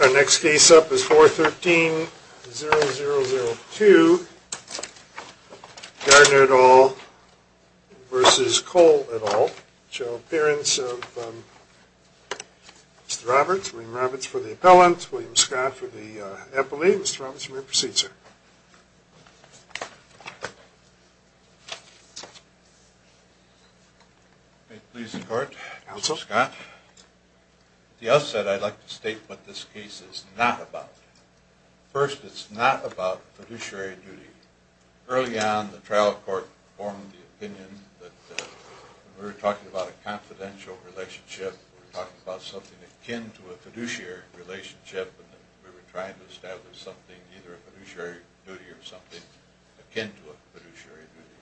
Our next case up is 413-0002, Gardner et al. versus Cole et al., which is the appearance of Mr. Roberts. William Roberts for the appellant, William Scott for the appellee. Mr. Roberts, you may proceed, sir. May it please the court, Mr. Scott. At the outset, I'd like to state what this case is not about. First, it's not about fiduciary duty. Early on, the trial court formed the opinion that we were talking about a confidential relationship, we were talking about something akin to a fiduciary relationship, and we were trying to establish something, either a fiduciary duty or something akin to a fiduciary duty.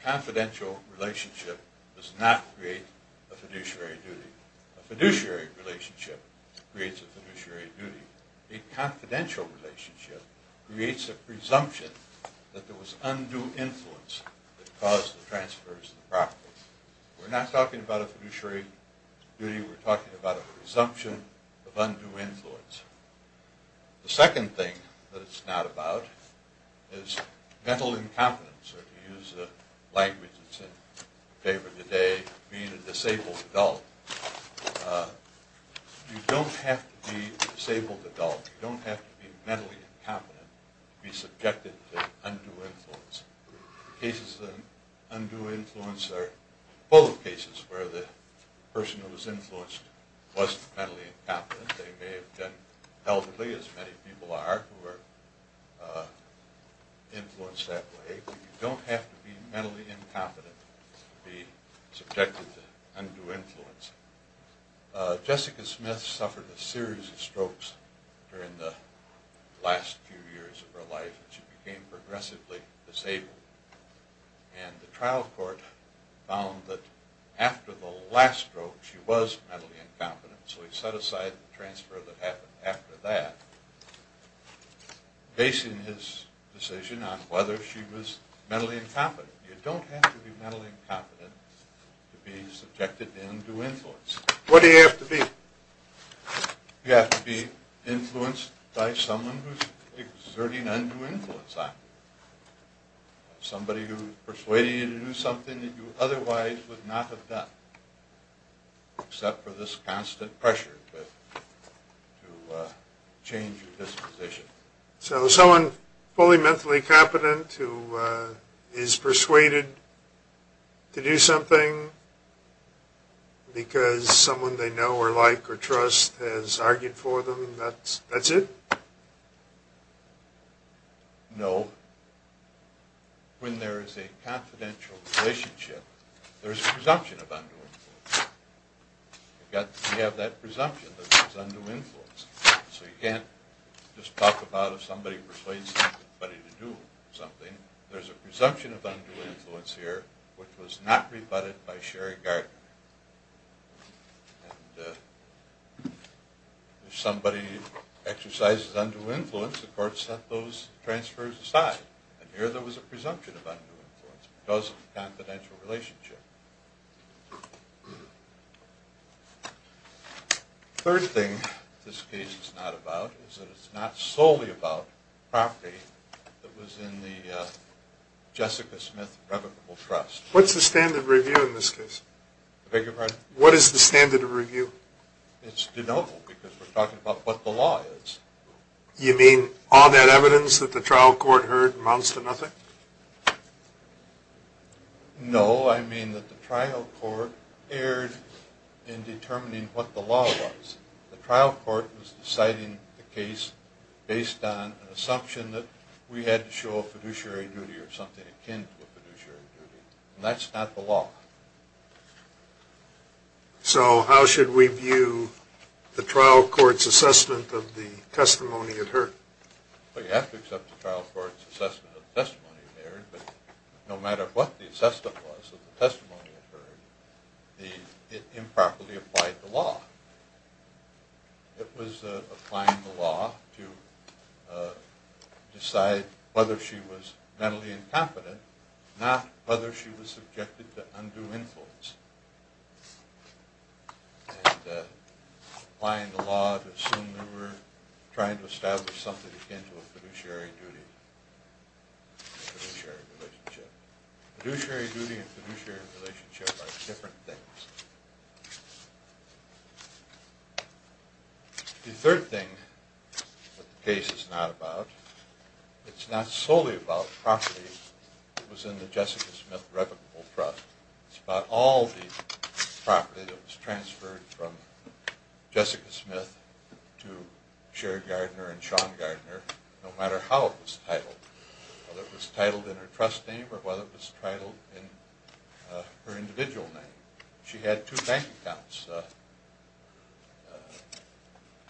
A confidential relationship does not create a fiduciary duty. A fiduciary relationship creates a fiduciary duty. A confidential relationship creates a presumption that there was undue influence that caused the transfers of the property. We're not talking about a fiduciary duty, we're talking about a presumption of undue influence. The second thing that it's not about is mental incompetence, or to use a language that's in favor today, being a disabled adult. You don't have to be a disabled adult, you don't have to be mentally incompetent to be subjected to undue influence. Cases of undue influence are both cases where the person who was influenced was mentally incompetent. They may have been elderly, as many people are, who were influenced that way. But you don't have to be mentally incompetent to be subjected to undue influence. Jessica Smith suffered a series of strokes during the last few years of her life, and she became progressively disabled. And the trial court found that after the last stroke she was mentally incompetent. So he set aside the transfer that happened after that, basing his decision on whether she was mentally incompetent. You don't have to be mentally incompetent to be subjected to undue influence. What do you have to be? You have to be influenced by someone who's exerting undue influence on you. Somebody who's persuading you to do something that you otherwise would not have done, except for this constant pressure to change your disposition. So someone fully mentally competent who is persuaded to do something because someone they know or like or trust has argued for them, that's it? No. When there is a confidential relationship, there's a presumption of undue influence. You have that presumption that there's undue influence. So you can't just talk about if somebody persuades somebody to do something. There's a presumption of undue influence here which was not rebutted by Sherry Gardner. And if somebody exercises undue influence, the court set those transfers aside. And here there was a presumption of undue influence because of the confidential relationship. Third thing this case is not about is that it's not solely about property that was in the Jessica Smith Revocable Trust. What's the standard of review in this case? Beg your pardon? What is the standard of review? It's denotable because we're talking about what the law is. You mean all that evidence that the trial court heard amounts to nothing? No, I mean that the trial court erred in determining what the law was. The trial court was deciding the case based on an assumption that we had to show a fiduciary duty or something akin to a fiduciary duty. And that's not the law. So how should we view the trial court's assessment of the testimony it heard? Well, you have to accept the trial court's assessment of the testimony it heard, but no matter what the assessment was of the testimony it heard, it improperly applied the law. It was applying the law to decide whether she was mentally incompetent, not whether she was subjected to undue influence. And applying the law to assume we were trying to establish something akin to a fiduciary duty, fiduciary relationship. Fiduciary duty and fiduciary relationship are different things. The third thing that the case is not about, it's not solely about property that was in the Jessica Smith Replicable Trust. It's about all the property that was transferred from Jessica Smith to Cher Gardner and Sean Gardner, no matter how it was titled. Whether it was titled in her trust name or whether it was titled in her individual name. She had two bank accounts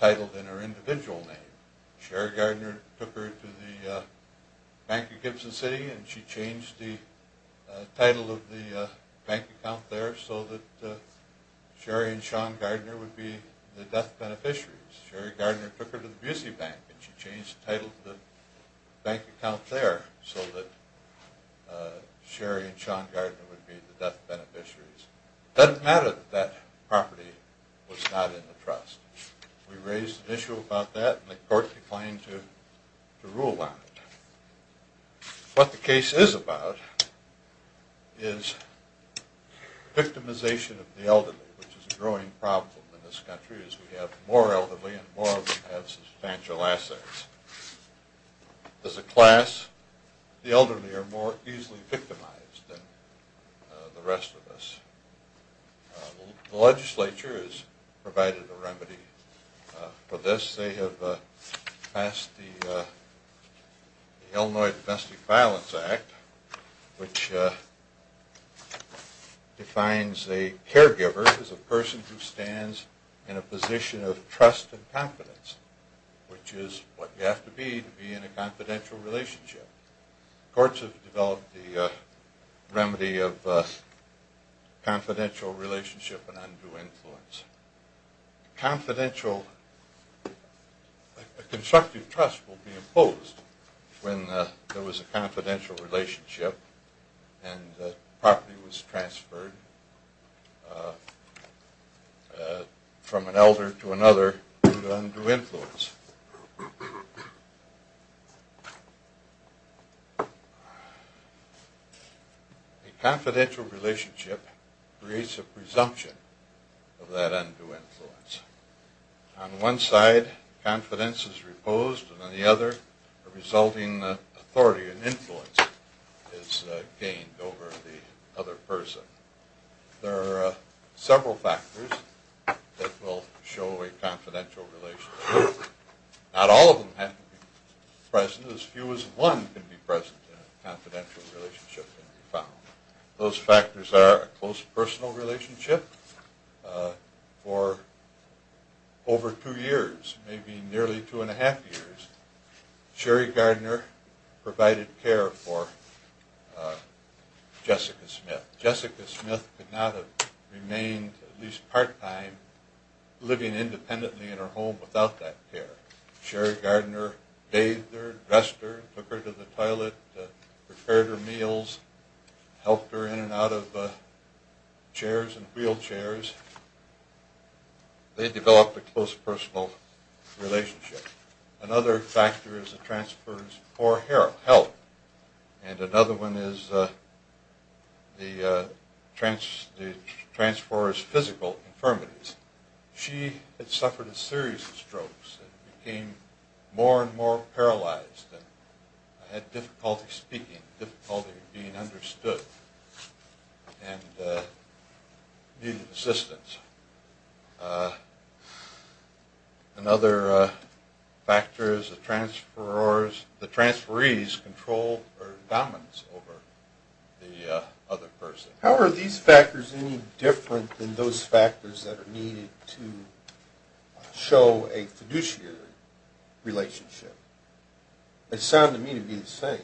titled in her individual name. Cher Gardner took her to the Bank of Gibson City and she changed the title of the bank account there so that Cher and Sean Gardner would be the death beneficiaries. Cher Gardner took her to the Busey Bank and she changed the title of the bank account there so that Cher and Sean Gardner would be the death beneficiaries. It doesn't matter that that property was not in the trust. We raised an issue about that and the court declined to rule on it. What the case is about is victimization of the elderly, which is a growing problem in this country as we have more elderly and more of them have substantial assets. As a class, the elderly are more easily victimized than the rest of us. The legislature has provided a remedy for this. They have passed the Illinois Domestic Violence Act, which defines a caregiver as a person who stands in a position of trust and confidence, which is what you have to be to be in a confidential relationship. Courts have developed the remedy of confidential relationship and undue influence. Confidential, a constructive trust will be imposed when there was a confidential relationship and the property was transferred from an elder to another through undue influence. A confidential relationship creates a presumption of that undue influence. On one side, confidence is reposed and on the other, a resulting authority and influence is gained over the other person. There are several factors that will show a confidential relationship. Not all of them have to be present. As few as one can be present in a confidential relationship. Those factors are a close personal relationship. For over two years, maybe nearly two and a half years, Sherry Gardner provided care for Jessica Smith. Jessica Smith could not have remained at least part-time living independently in her home without that care. Sherry Gardner bathed her, dressed her, took her to the toilet, prepared her meals, helped her in and out of chairs and wheelchairs. They developed a close personal relationship. Another factor is a transfer's poor health. And another one is the transfer's physical infirmities. She had suffered a series of strokes and became more and more paralyzed and had difficulty speaking, difficulty being understood, and needed assistance. Another factor is the transferee's control or dominance over the other person. How are these factors any different than those factors that are needed to show a fiduciary relationship? It sounded to me to be the same.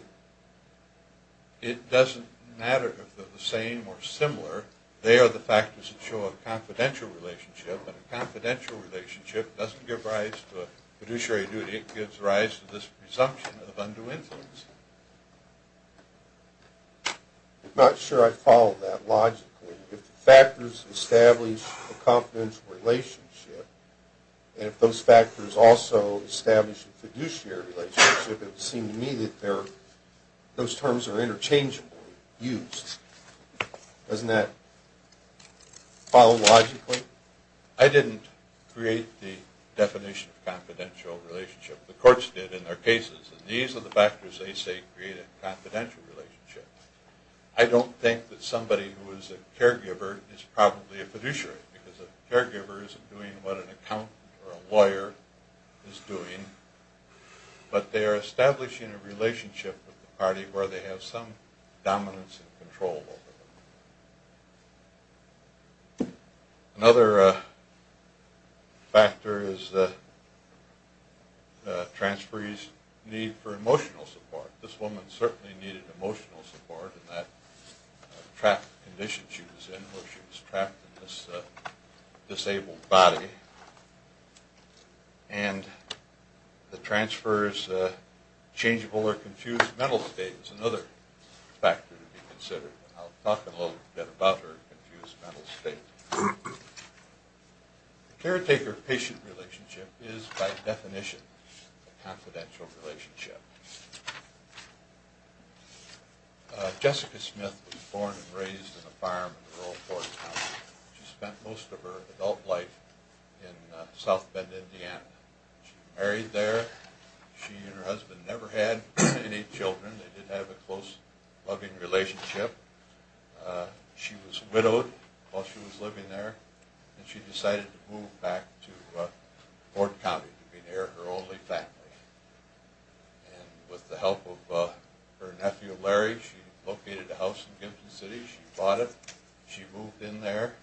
It doesn't matter if they're the same or similar. They are the factors that show a confidential relationship, and a confidential relationship doesn't give rise to a fiduciary duty. It gives rise to this presumption of undue influence. I'm not sure I follow that logically. If the factors establish a confidential relationship, and if those factors also establish a fiduciary relationship, it would seem to me that those terms are interchangeably used. Doesn't that follow logically? I didn't create the definition of confidential relationship. The courts did in their cases. These are the factors they say create a confidential relationship. I don't think that somebody who is a caregiver is probably a fiduciary because a caregiver isn't doing what an accountant or a lawyer is doing, but they are establishing a relationship with the party where they have some dominance and control over them. Another factor is the transferee's need for emotional support. This woman certainly needed emotional support in that trapped condition she was in where she was trapped in this disabled body. And the transferor's changeable or confused mental state is another factor to be considered. I'll talk a little bit about her confused mental state. A caretaker-patient relationship is, by definition, a confidential relationship. Jessica Smith was born and raised in a farm in the rural Florida county. She spent most of her adult life in South Bend, Indiana. She married there. She and her husband never had any children. They did have a close, loving relationship. She was widowed while she was living there, and she decided to move back to Ford County to be near her only family. And with the help of her nephew, Larry, she located a house in Gimson City. She bought it. She moved in there.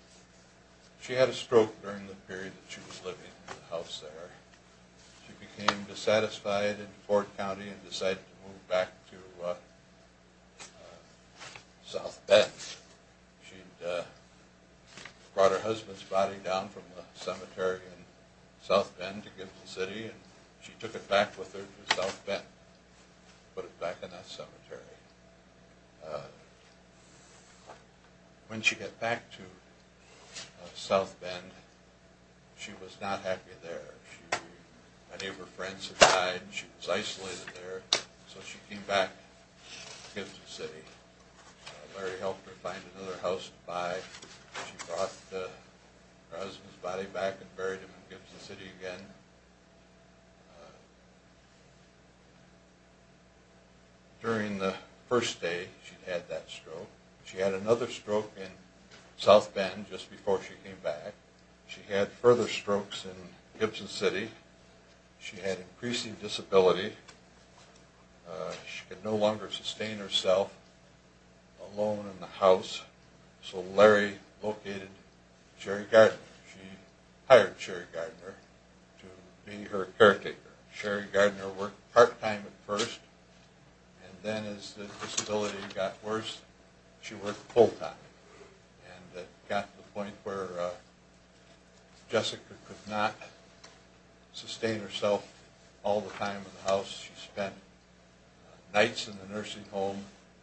She had a stroke during the period that she was living in the house there. She became dissatisfied in Ford County and decided to move back to South Bend. She brought her husband's body down from a cemetery in South Bend to Gimson City, and she took it back with her to South Bend, put it back in that cemetery. When she got back to South Bend, she was not happy there. Many of her friends had died, and she was isolated there. So she came back to Gimson City. Larry helped her find another house to buy. She brought her husband's body back and buried him in Gimson City again. During the first day, she had that stroke. She had another stroke in South Bend just before she came back. She had further strokes in Gimson City. She had increasing disability. She could no longer sustain herself alone in the house, so Larry located Cherry Gardner. She hired Cherry Gardner to help her. Cherry Gardner worked part-time at first, and then as the disability got worse, she worked full-time. It got to the point where Jessica could not sustain herself all the time in the house. She spent nights in the nursing home,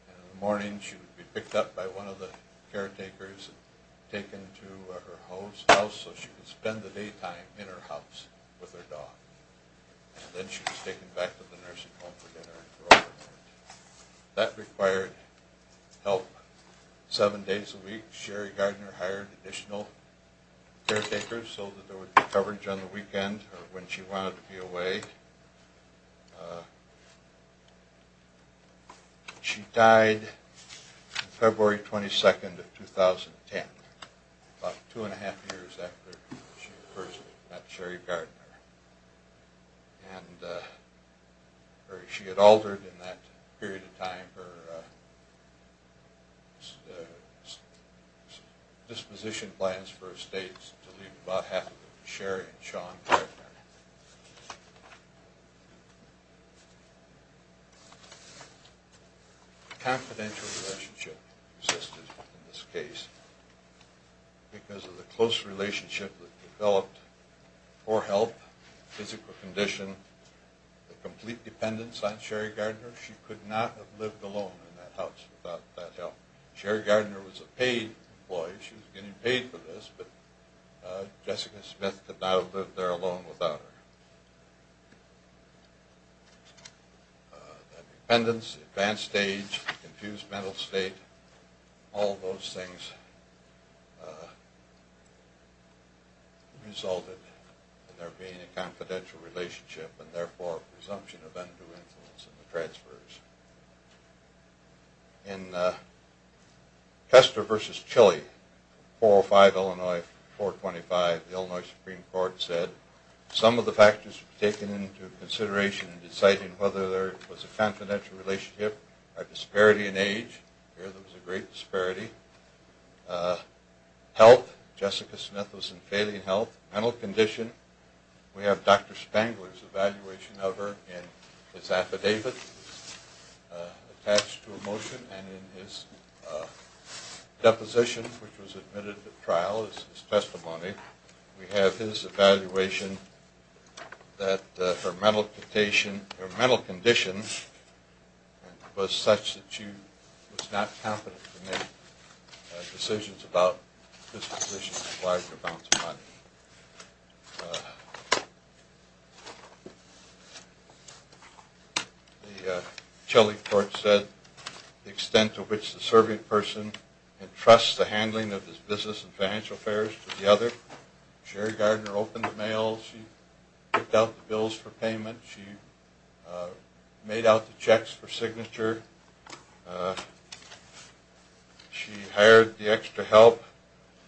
and in the morning she would be picked up by one of the caretakers and taken to her husband's house so she could spend the daytime in her house with her dog. Then she was taken back to the nursing home for dinner. That required help seven days a week. Cherry Gardner hired additional caretakers so that there would be coverage on the weekend when she wanted to be away. She died February 22, 2010, about two and a half years after she had met Cherry Gardner. She had altered in that period of time her disposition plans for estates to leave about half of it to Cherry and Sean Gardner. A confidential relationship existed in this case. Because of the close relationship that developed, poor health, physical condition, the complete dependence on Cherry Gardner, she could not have lived alone in that house without that help. Cherry Gardner was a paid employee. She was getting paid for this, but Jessica Smith could not have lived there alone without her. That dependence, advanced age, confused mental state, all those things resulted in there being a confidential relationship and therefore a presumption of undue influence in the transfers. In Kester v. Chile, 405 Illinois 425, the Illinois Supreme Court said some of the factors taken into consideration in deciding whether there was a confidential relationship are disparity in age. There was a great disparity. Health, Jessica Smith was in failing health. Mental condition, we have Dr. Spangler's evaluation of her in his affidavit. Attached to a motion and in his deposition, which was admitted to trial as his testimony, we have his evaluation that her mental condition was such that she was not competent to make decisions about dispositions and large amounts of money. The Chile court said the extent to which the serving person entrusts the handling of his business and financial affairs to the other. Cherry Gardner opened the mail, she picked out the bills for payment, she made out the checks for signature, she hired the extra help,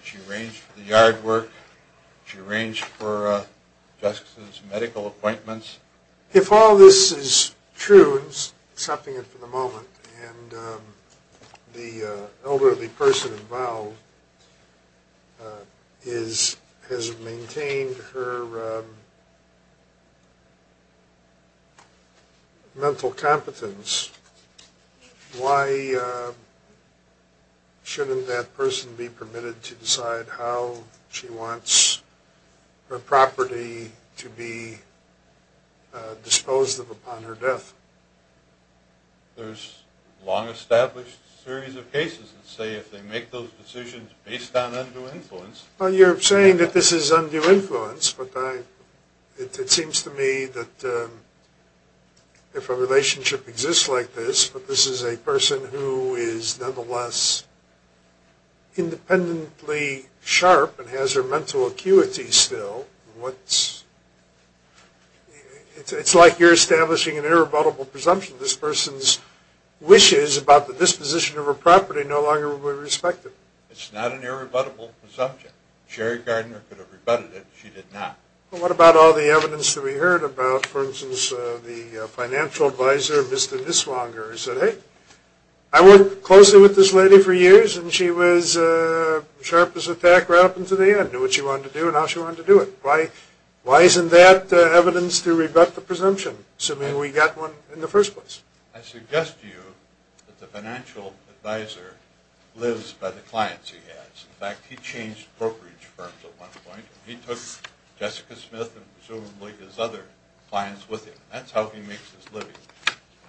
she arranged for the yard work, she arranged for Jessica's medical appointments. If all this is true, except for the moment, and the elderly person involved has maintained her mental competence, why shouldn't that person be permitted to decide how she wants her property to be disposed of upon her death? There's a long established series of cases that say if they make those decisions based on undue influence... Well, you're saying that this is undue influence, but it seems to me that if a relationship exists like this, but this is a person who is nonetheless independently sharp and has her mental acuity still, it's like you're establishing an irrebuttable presumption. This person's wishes about the disposition of her property no longer will be respected. It's not an irrebuttable presumption. Cherry Gardner could have rebutted it, she did not. Well, what about all the evidence that we heard about, for instance, the financial advisor, Mr. Niswonger, who said, hey, I worked closely with this lady for years and she was sharp as a tack right up until the end, knew what she wanted to do and how she wanted to do it. Why isn't that evidence to rebut the presumption, assuming we got one in the first place? I suggest to you that the financial advisor lives by the clients he has. In fact, he changed brokerage firms at one point. He took Jessica Smith and presumably his other clients with him. That's how he makes his living.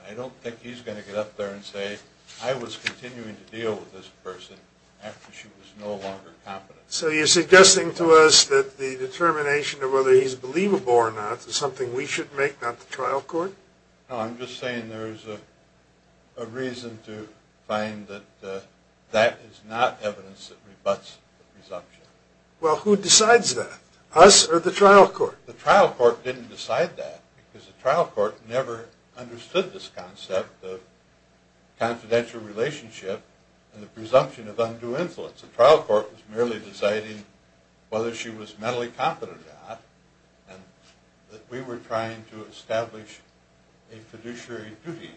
I don't think he's going to get up there and say, I was continuing to deal with this person after she was no longer competent. So you're suggesting to us that the determination of whether he's believable or not is something we should make, not the trial court? No, I'm just saying there's a reason to find that that is not evidence that rebuts the presumption. Well, who decides that, us or the trial court? The trial court didn't decide that because the trial court never understood this concept of confidential relationship and the presumption of undue influence. The trial court was merely deciding whether she was mentally competent or not and that we were trying to establish a fiduciary duty,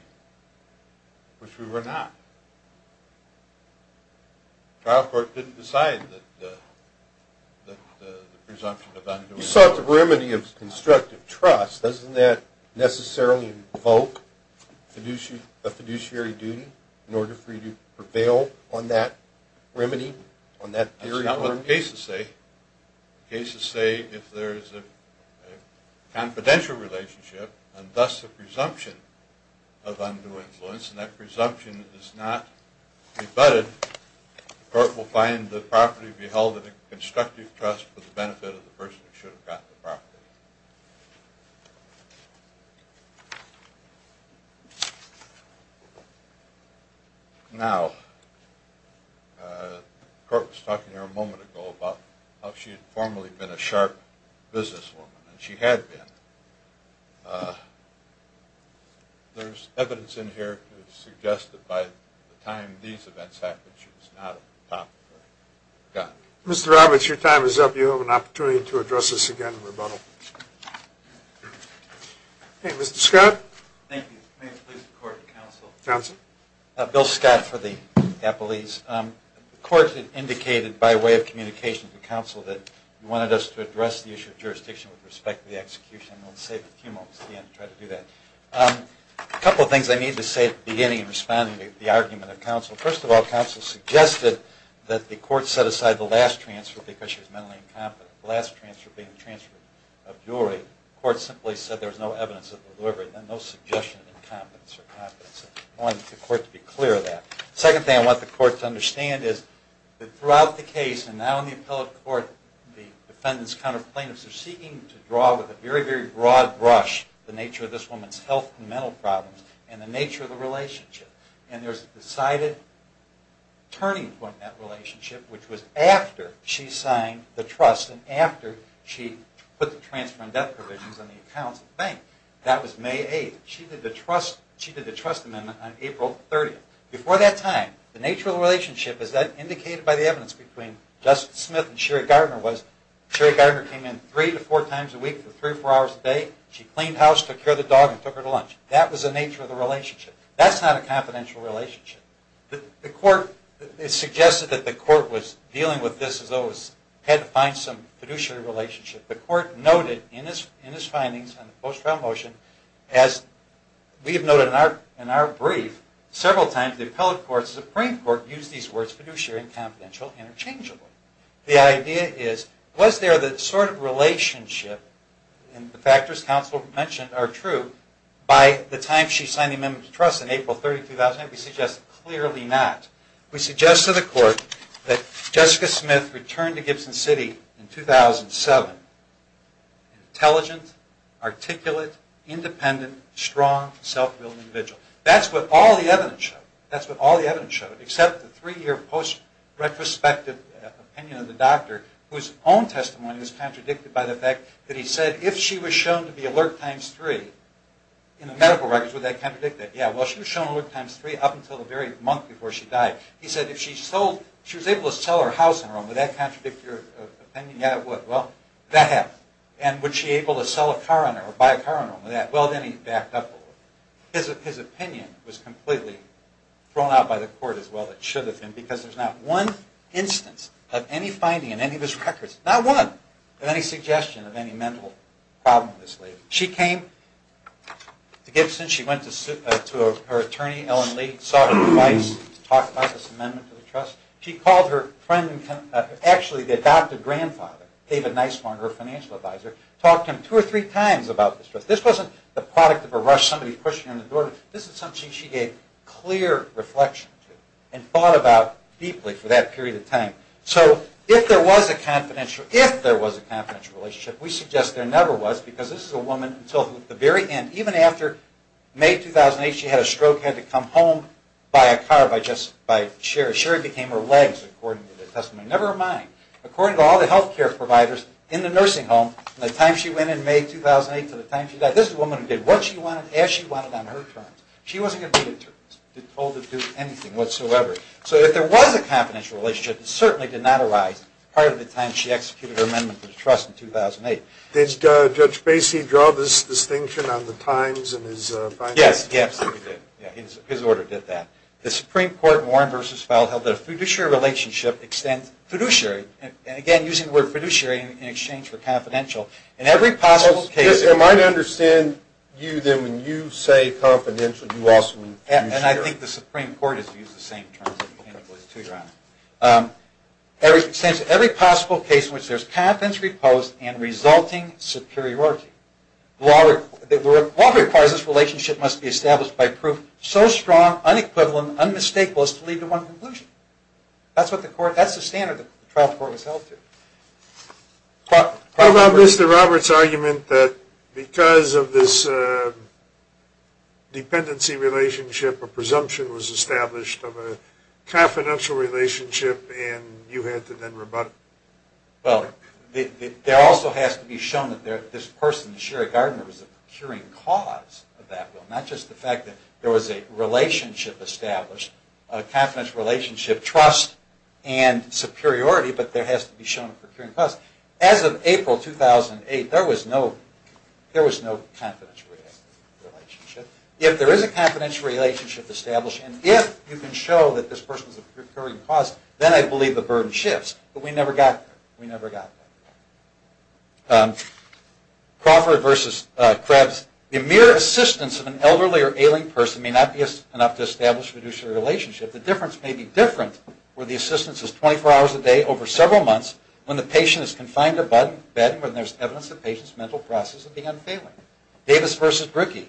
which we were not. The trial court didn't decide that the presumption of undue influence… You sought the remedy of constructive trust. Doesn't that necessarily invoke a fiduciary duty in order for you to prevail on that remedy, on that theory? That's not what the cases say. The cases say if there's a confidential relationship and thus a presumption of undue influence and that presumption is not rebutted, the court will find the property to be held in a constructive trust for the benefit of the person who should have gotten the property. Now, the court was talking here a moment ago about how she had formerly been a sharp businesswoman, and she had been. There's evidence in here to suggest that by the time these events happened, she was not at the top of her game. Go ahead. Mr. Roberts, your time is up. You have an opportunity to address this again in rebuttal. Mr. Scott. Thank you. May it please the court and counsel. Counsel. Bill Scott for the appellees. The court indicated by way of communication to counsel that it wanted us to address the issue of jurisdiction with respect to the execution. I'm going to save a few moments at the end to try to do that. A couple of things I need to say at the beginning in responding to the argument of counsel. First of all, counsel suggested that the court set aside the last transfer because she was mentally incompetent. The last transfer being the transfer of jewelry. The court simply said there was no evidence of delivery and no suggestion of incompetence or competence. I wanted the court to be clear of that. The second thing I want the court to understand is that throughout the case and now in the appellate court, the defendant's counter plaintiffs are seeking to draw with a very, very broad brush the nature of this woman's health and mental problems and the nature of the relationship. And there's a decided turning point in that relationship, which was after she signed the trust and after she put the transfer and death provisions on the account of the bank. That was May 8th. She did the trust amendment on April 30th. Before that time, the nature of the relationship, as indicated by the evidence between Justin Smith and Sherry Gardner, was Sherry Gardner came in three to four times a week for three or four hours a day. She cleaned house, took care of the dog, and took her to lunch. That was the nature of the relationship. That's not a confidential relationship. The court suggested that the court was dealing with this as though it had to find some fiduciary relationship. The court noted in its findings on the post-trial motion, as we have noted in our brief, several times the appellate court, the Supreme Court, used these words fiduciary and confidential interchangeably. The idea is, was there the sort of relationship, and the factors counsel mentioned are true, by the time she signed the amendment to trust in April 30th, 2009. We suggest clearly not. We suggest to the court that Jessica Smith returned to Gibson City in 2007. Intelligent, articulate, independent, strong, self-willed individual. That's what all the evidence showed. That's what all the evidence showed, except the three-year post-retrospective opinion of the doctor, whose own testimony was contradicted by the fact that he said, if she was shown to be alert times three in the medical records, would that contradict that? Yeah, well, she was shown alert times three up until the very month before she died. He said, if she was able to sell her house in Rome, would that contradict your opinion? Yeah, it would. Well, that happens. And would she be able to sell a car in Rome, or buy a car in Rome? Well, then he backed up a little. His opinion was completely thrown out by the court as well as it should have been, because there's not one instance of any finding in any of his records, not one of any suggestion of any mental problem with this lady. She came to Gibson. She went to her attorney, Ellen Lee, sought advice, talked about this amendment to the trust. She called her friend, actually the adopted grandfather, David Nisbarn, her financial advisor, talked to him two or three times about this trust. This wasn't the product of a rush, somebody pushing her in the door. This is something she gave clear reflection to and thought about deeply for that period of time. So if there was a confidential relationship, we suggest there never was, because this is a woman until the very end. Even after May 2008, she had a stroke, had to come home by a car, by Sherry. Sherry became her legs, according to the testimony. Never mind. According to all the health care providers in the nursing home, from the time she went in May 2008 to the time she died, this is a woman who did what she wanted, as she wanted, on her terms. She wasn't going to be an attorney, told to do anything whatsoever. So if there was a confidential relationship, it certainly did not arise prior to the time she executed her amendment to the trust in 2008. Did Judge Basie draw this distinction on the times and his finances? Yes, he absolutely did. His order did that. The Supreme Court, Warren v. Feld, held that a fiduciary relationship extends fiduciary, and again, using the word fiduciary in exchange for confidential, in every possible case. I might understand you, then, when you say confidential, you also mean fiduciary. And I think the Supreme Court has used the same terms, if I'm not mistaken. It extends to every possible case in which there is confidence reposed and resulting superiority. The law requires this relationship must be established by proof so strong, unequivocal, and unmistakable as to lead to one conclusion. That's the standard the trial court was held to. How about Mr. Roberts' argument that because of this dependency relationship, a presumption was established of a confidential relationship, and you had to then rebut it? Well, there also has to be shown that this person, Sherry Gardner, was the procuring cause of that. Not just the fact that there was a relationship established, a confidential relationship, trust and superiority, but there has to be shown a procuring cause. As of April 2008, there was no confidential relationship. If there is a confidential relationship established, and if you can show that this person is a procuring cause, then I believe the burden shifts. But we never got there. We never got there. Crawford versus Krebs. The mere assistance of an elderly or ailing person may not be enough to establish fiduciary relationship. The difference may be different where the assistance is 24 hours a day over several months, when the patient is confined to a bed, and when there's evidence of the patient's mental process of being unfailing. Davis versus Brookie.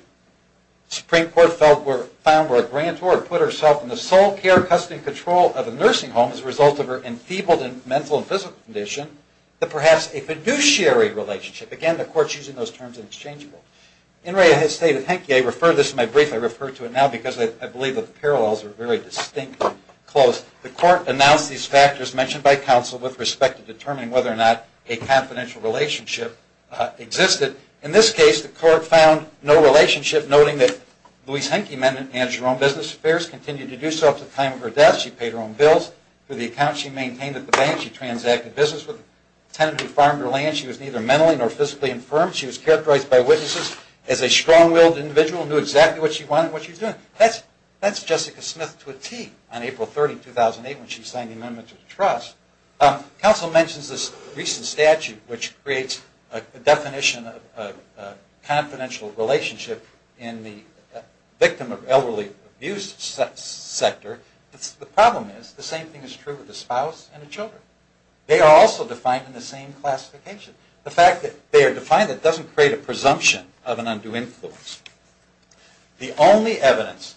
The Supreme Court found where a grantor put herself in the sole care, custody, and control of a nursing home as a result of her enthebaled mental and physical condition, that perhaps a fiduciary relationship, again, the court's using those terms interchangeably. In read, I refer to this in my brief. I refer to it now because I believe the parallels are very distinctly close. The court announced these factors mentioned by counsel with respect to determining whether or not a confidential relationship existed. In this case, the court found no relationship, noting that Louise Henke managed her own business affairs, continued to do so up to the time of her death. She paid her own bills for the accounts she maintained at the bank. She transacted business with a tenant who farmed her land. She was neither mentally nor physically infirm. She was characterized by witnesses as a strong-willed individual who knew exactly what she wanted and what she was doing. That's Jessica Smith to a tee on April 30, 2008, when she signed the Amendment to the Trust. Counsel mentions this recent statute which creates a definition of confidential relationship in the victim of elderly abuse sector. The problem is the same thing is true with the spouse and the children. They are also defined in the same classification. The fact that they are defined doesn't create a presumption of an undue influence. The only evidence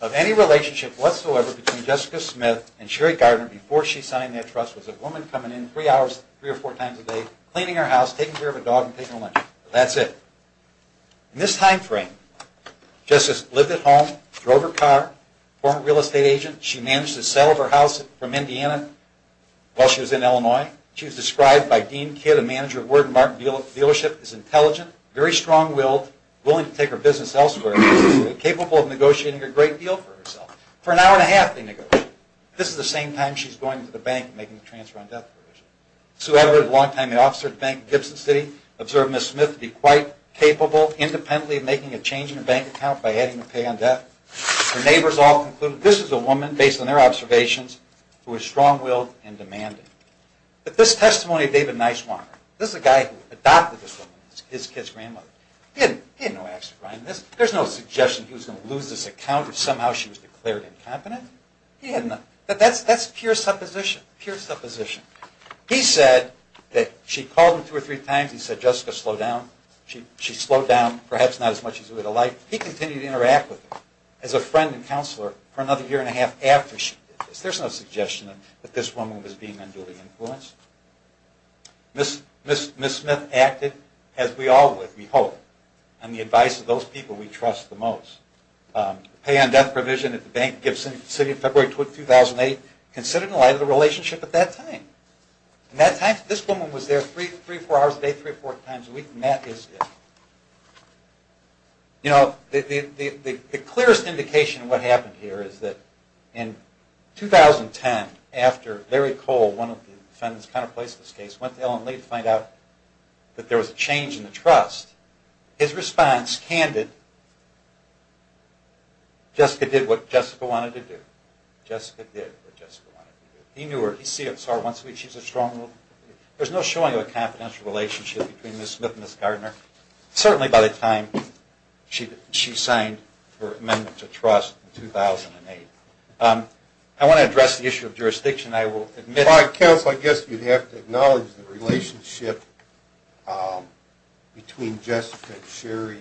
of any relationship whatsoever between Jessica Smith and Sherry Gardner before she signed that trust was a woman coming in three or four times a day, cleaning her house, taking care of a dog, and taking a lunch. That's it. In this time frame, Jessica lived at home, drove her car, a former real estate agent. She managed to settle her house from Indiana while she was in Illinois. She was described by Dean Kidd, a manager of Word and Mark dealership, as intelligent, very strong-willed, willing to take her business elsewhere, and capable of negotiating a great deal for herself. For an hour and a half they negotiated. This is the same time she's going to the bank and making a transfer on death provision. Sue Edward, a long-time officer at the bank in Gibson City, observed Ms. Smith to be quite capable, independently of making a change in her bank account by adding the pay on death. Her neighbors all concluded this is a woman, based on their observations, who was strong-willed and demanding. But this testimony of David Niswonger, this is a guy who adopted this woman, his kid's grandmother. He had no access to her. There's no suggestion he was going to lose this account if somehow she was declared incompetent. That's pure supposition, pure supposition. He said that she called him two or three times. He said, Jessica, slow down. She slowed down, perhaps not as much as he would have liked. He continued to interact with her as a friend and counselor for another year and a half after she did this. There's no suggestion that this woman was being unduly influenced. Ms. Smith acted as we all would, we hope, on the advice of those people we trust the most. The pay on death provision at the bank in Gibson City in February 2008 considered in light of the relationship at that time. At that time, this woman was there three or four hours a day, three or four times a week, and that is it. You know, the clearest indication of what happened here is that in 2010, after Larry Cole, one of the defendants counterplaced this case, went to Ellen Lee to find out that there was a change in the trust, his response, candid, Jessica did what Jessica wanted to do. Jessica did what Jessica wanted to do. He knew her, he saw her once a week, she's a strong woman. There's no showing of a confidential relationship between Ms. Smith and Ms. Gardner. Certainly by the time she signed her amendment to trust in 2008. I want to address the issue of jurisdiction, I will admit... Counsel, I guess you'd have to acknowledge the relationship between Jessica and Sherry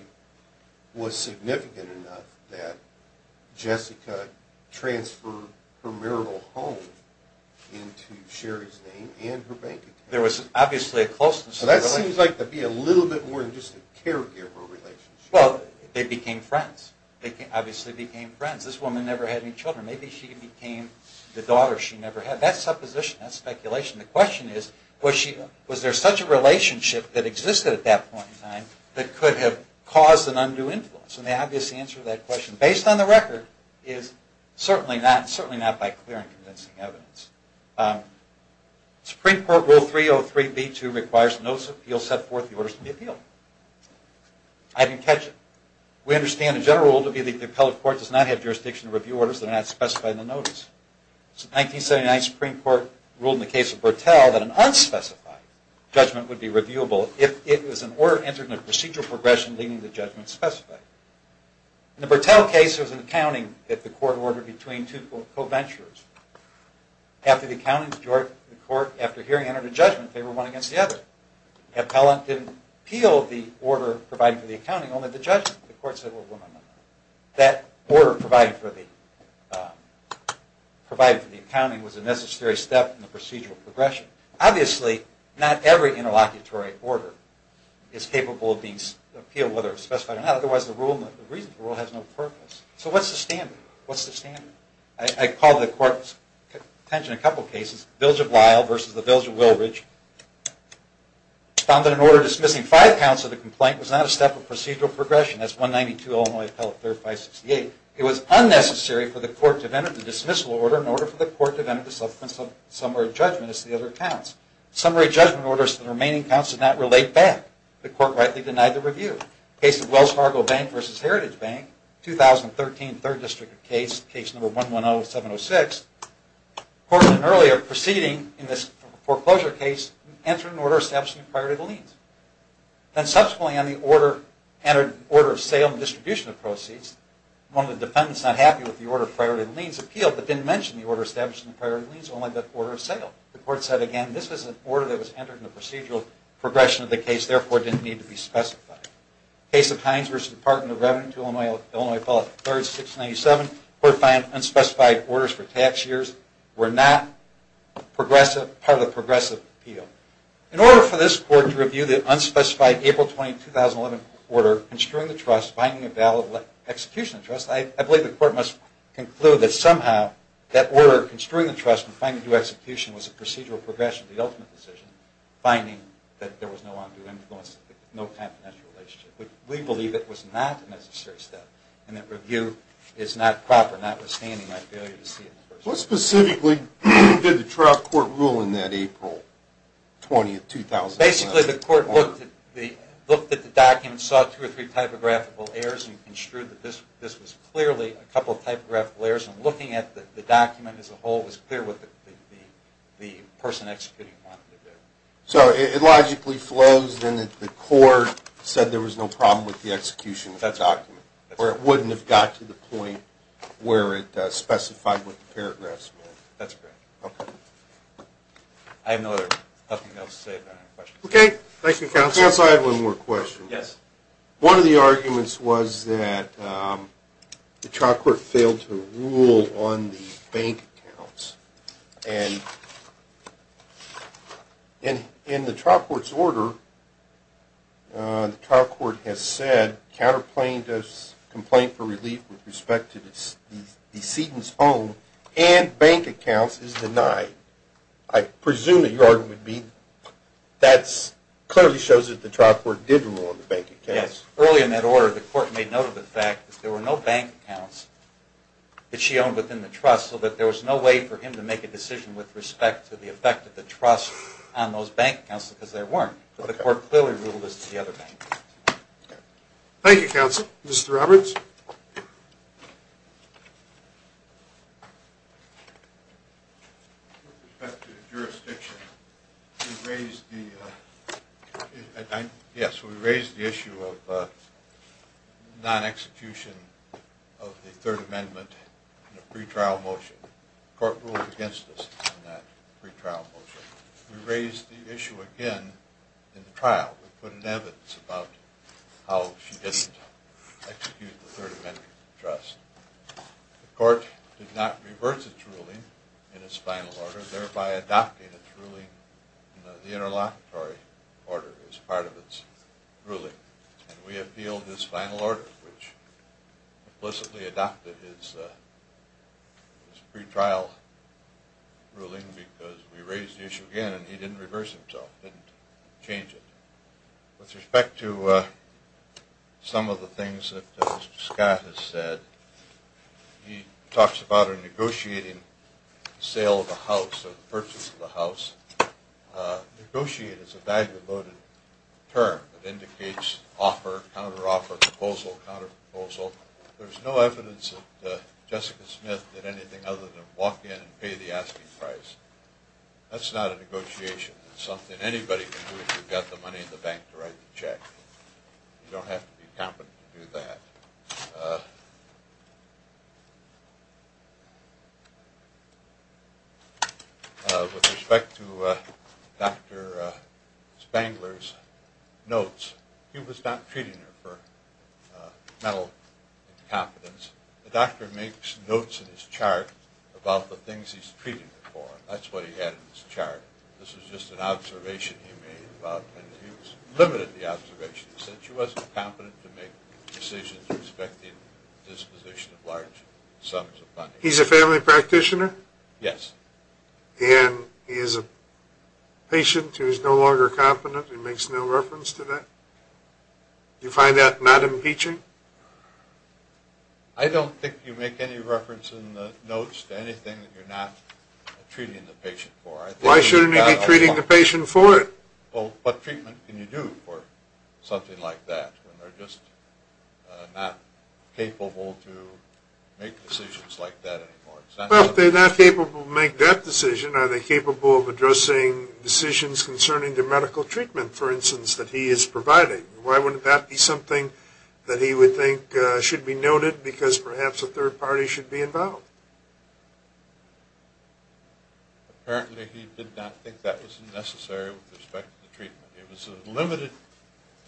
was significant enough that Jessica transferred her marital home into Sherry's name and her bank account. There was obviously a closeness... That seems to be a little bit more than just a caregiver relationship. Well, they became friends. They obviously became friends. This woman never had any children. Maybe she became the daughter she never had. That's supposition, that's speculation. The question is, was there such a relationship that existed at that point in time that could have caused an undue influence? And the obvious answer to that question, based on the record, is certainly not by clear and convincing evidence. Supreme Court Rule 303b2 requires that notice of appeal set forth the orders to be appealed. I didn't catch it. We understand the general rule to be that the appellate court does not have jurisdiction to review orders that are not specified in the notice. In 1979, the Supreme Court ruled in the case of Bertell that an unspecified judgment would be reviewable if it was an order entered in a procedural progression leading to the judgment specified. In the Bertell case, it was an accounting that the court ordered between two co-venturers. After the hearing, the court entered a judgment in favor of one against the other. The appellant didn't appeal the order provided for the accounting, only the judgment. The court said, well, no, no, no. That order provided for the accounting was a necessary step in the procedural progression. Obviously, not every interlocutory order is capable of being appealed, whether specified or not. Otherwise, the reason for the rule has no purpose. So what's the standard? I call to the court's attention a couple of cases. Vilja Blyle versus the Vilja Wilridge found that an order dismissing five counts of the complaint was not a step of procedural progression. That's 192 Illinois Appellate 3rd 568. It was unnecessary for the court to have entered the dismissal order in order for the court to have entered the subsequent summary judgment as the other counts. Summary judgment orders to the remaining counts did not relate back. The court rightly denied the review. Case of Wells Fargo Bank versus Heritage Bank, 2013, third district case, case number 110706. Court had earlier proceeding in this foreclosure case entered an order establishing the priority of the liens. Then subsequently on the order of sale and distribution of proceeds, one of the defendants not happy with the order of priority of liens appealed, but didn't mention the order establishing the priority of liens, only the order of sale. The court said, again, this was an order that was entered in the procedural progression of the case, therefore it didn't need to be specified. Case of Hines versus Department of Revenue, Illinois Appellate 3rd 697. The court found unspecified orders for tax years were not part of the progressive appeal. In order for this court to review the unspecified April 20, 2011 order construing the trust, finding a valid execution of the trust, I believe the court must conclude that somehow that order construing the trust and finding due execution was a procedural progression, the ultimate decision, finding that there was no confidential relationship. We believe it was not a necessary step and that review is not proper, notwithstanding my failure to see it in the first place. What specifically did the trial court rule in that April 20, 2011 order? Basically, the court looked at the document, saw two or three typographical errors, and construed that this was clearly a couple of typographical errors. Looking at the document as a whole, it was clear what the person executing it wanted to do. So it logically flows in that the court said there was no problem with the execution of the document, or it wouldn't have got to the point where it specified what the paragraphs meant. That's correct. Okay. I have nothing else to say but I have a question. Okay. Thank you, counsel. Counsel, I have one more question. Yes. One of the arguments was that the trial court failed to rule on the bank accounts, and in the trial court's order, the trial court has said counterplaying the complaint for relief with respect to the decedent's home and bank accounts is denied. I presume that your argument would be that clearly shows that the trial court did rule on the bank accounts. Yes. Early in that order, the court made note of the fact that there were no bank accounts that she owned within the trust, so that there was no way for him to make a decision with respect to the effect of the trust on those bank accounts because there weren't. Okay. But the court clearly ruled as to the other bank accounts. Okay. Thank you, counsel. Mr. Roberts? With respect to the jurisdiction, we raised the issue of non-execution of the Third Amendment in a pretrial motion. The court ruled against us in that pretrial motion. We raised the issue again in the trial. We put in evidence about how she didn't execute the Third Amendment in the trust. The court did not reverse its ruling in its final order, thereby adopting its ruling in the interlocutory order as part of its ruling, and we appealed this final order, which implicitly adopted his pretrial ruling because we raised the issue again, and he didn't reverse himself, didn't change it. With respect to some of the things that Mr. Scott has said, he talks about a negotiating sale of the house or the purchase of the house. Negotiate is a value-devoted term that indicates offer, counteroffer, proposal, counterproposal. There's no evidence that Jessica Smith did anything other than walk in and pay the asking price. That's not a negotiation. It's something anybody can do if you've got the money in the bank to write the check. You don't have to be competent to do that. With respect to Dr. Spangler's notes, he was not treating her for mental incompetence. The doctor makes notes in his chart about the things he's treating her for. That's what he had in his chart. This was just an observation he made. He limited the observation. He said she wasn't competent to make decisions with respect to the disposition of large sums of money. He's a family practitioner? Yes. And he is a patient who is no longer competent and makes no reference to that? Do you find that not impeaching? I don't think you make any reference in the notes to anything that you're not treating the patient for. Why shouldn't he be treating the patient for it? What treatment can you do for something like that when they're just not capable to make decisions like that anymore? Well, if they're not capable to make that decision, are they capable of addressing decisions concerning the medical treatment, for instance, that he is providing? Why wouldn't that be something that he would think should be noted because perhaps a third party should be involved? Apparently he did not think that was necessary with respect to the treatment. It was a limited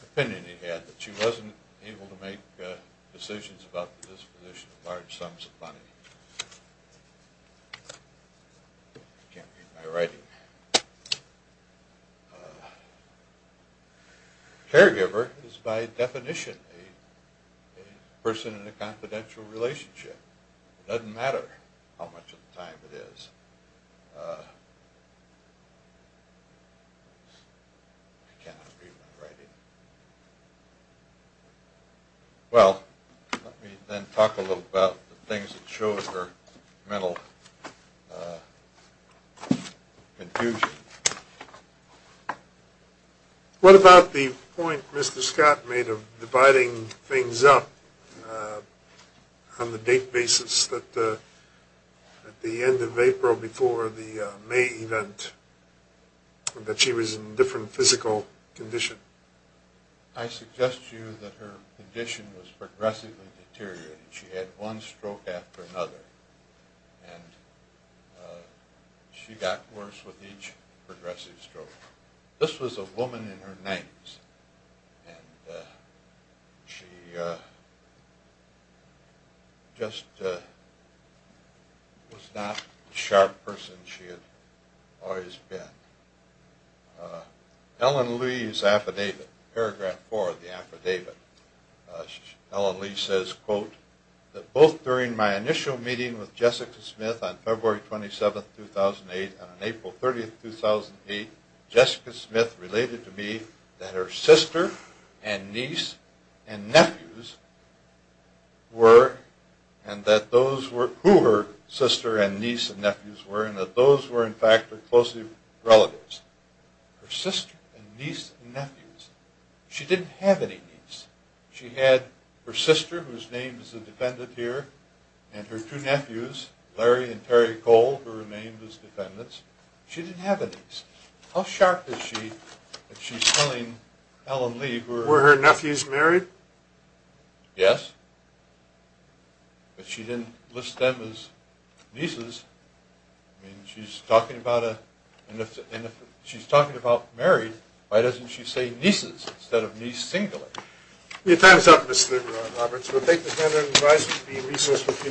opinion he had that she wasn't able to make decisions about the disposition of large sums of money. I can't read my writing. Caregiver is by definition a person in a confidential relationship. It doesn't matter how much of the time it is. I can't read my writing. Well, let me then talk a little about the things that show her mental confusion. What about the point Mr. Scott made of dividing things up on the date basis that at the end of April before the May event that she was in a different physical condition? I suggest to you that her condition was progressively deteriorating. She had one stroke after another, and she got worse with each progressive stroke. This was a woman in her 90s, and she just was not the sharp person she had always been. Ellen Lee's affidavit, paragraph four of the affidavit. Ellen Lee says, quote, that both during my initial meeting with Jessica Smith on February 27, 2008, and on April 30, 2008, Jessica Smith related to me that her sister and niece and nephews were, and that those were, who her sister and niece and nephews were, and that those were, in fact, her close relatives. Her sister and niece and nephews. She didn't have any niece. She had her sister, whose name is a defendant here, and her two nephews, Larry and Terry Cole, who remained as defendants. She didn't have a niece. How sharp is she if she's telling Ellen Lee who her... Were her nephews married? Yes. But she didn't list them as nieces. I mean, she's talking about a... And if she's talking about married, why doesn't she say nieces instead of niece singular? Your time is up, Mr. Roberts. The defendant advised that he be re-sourced for a few minutes.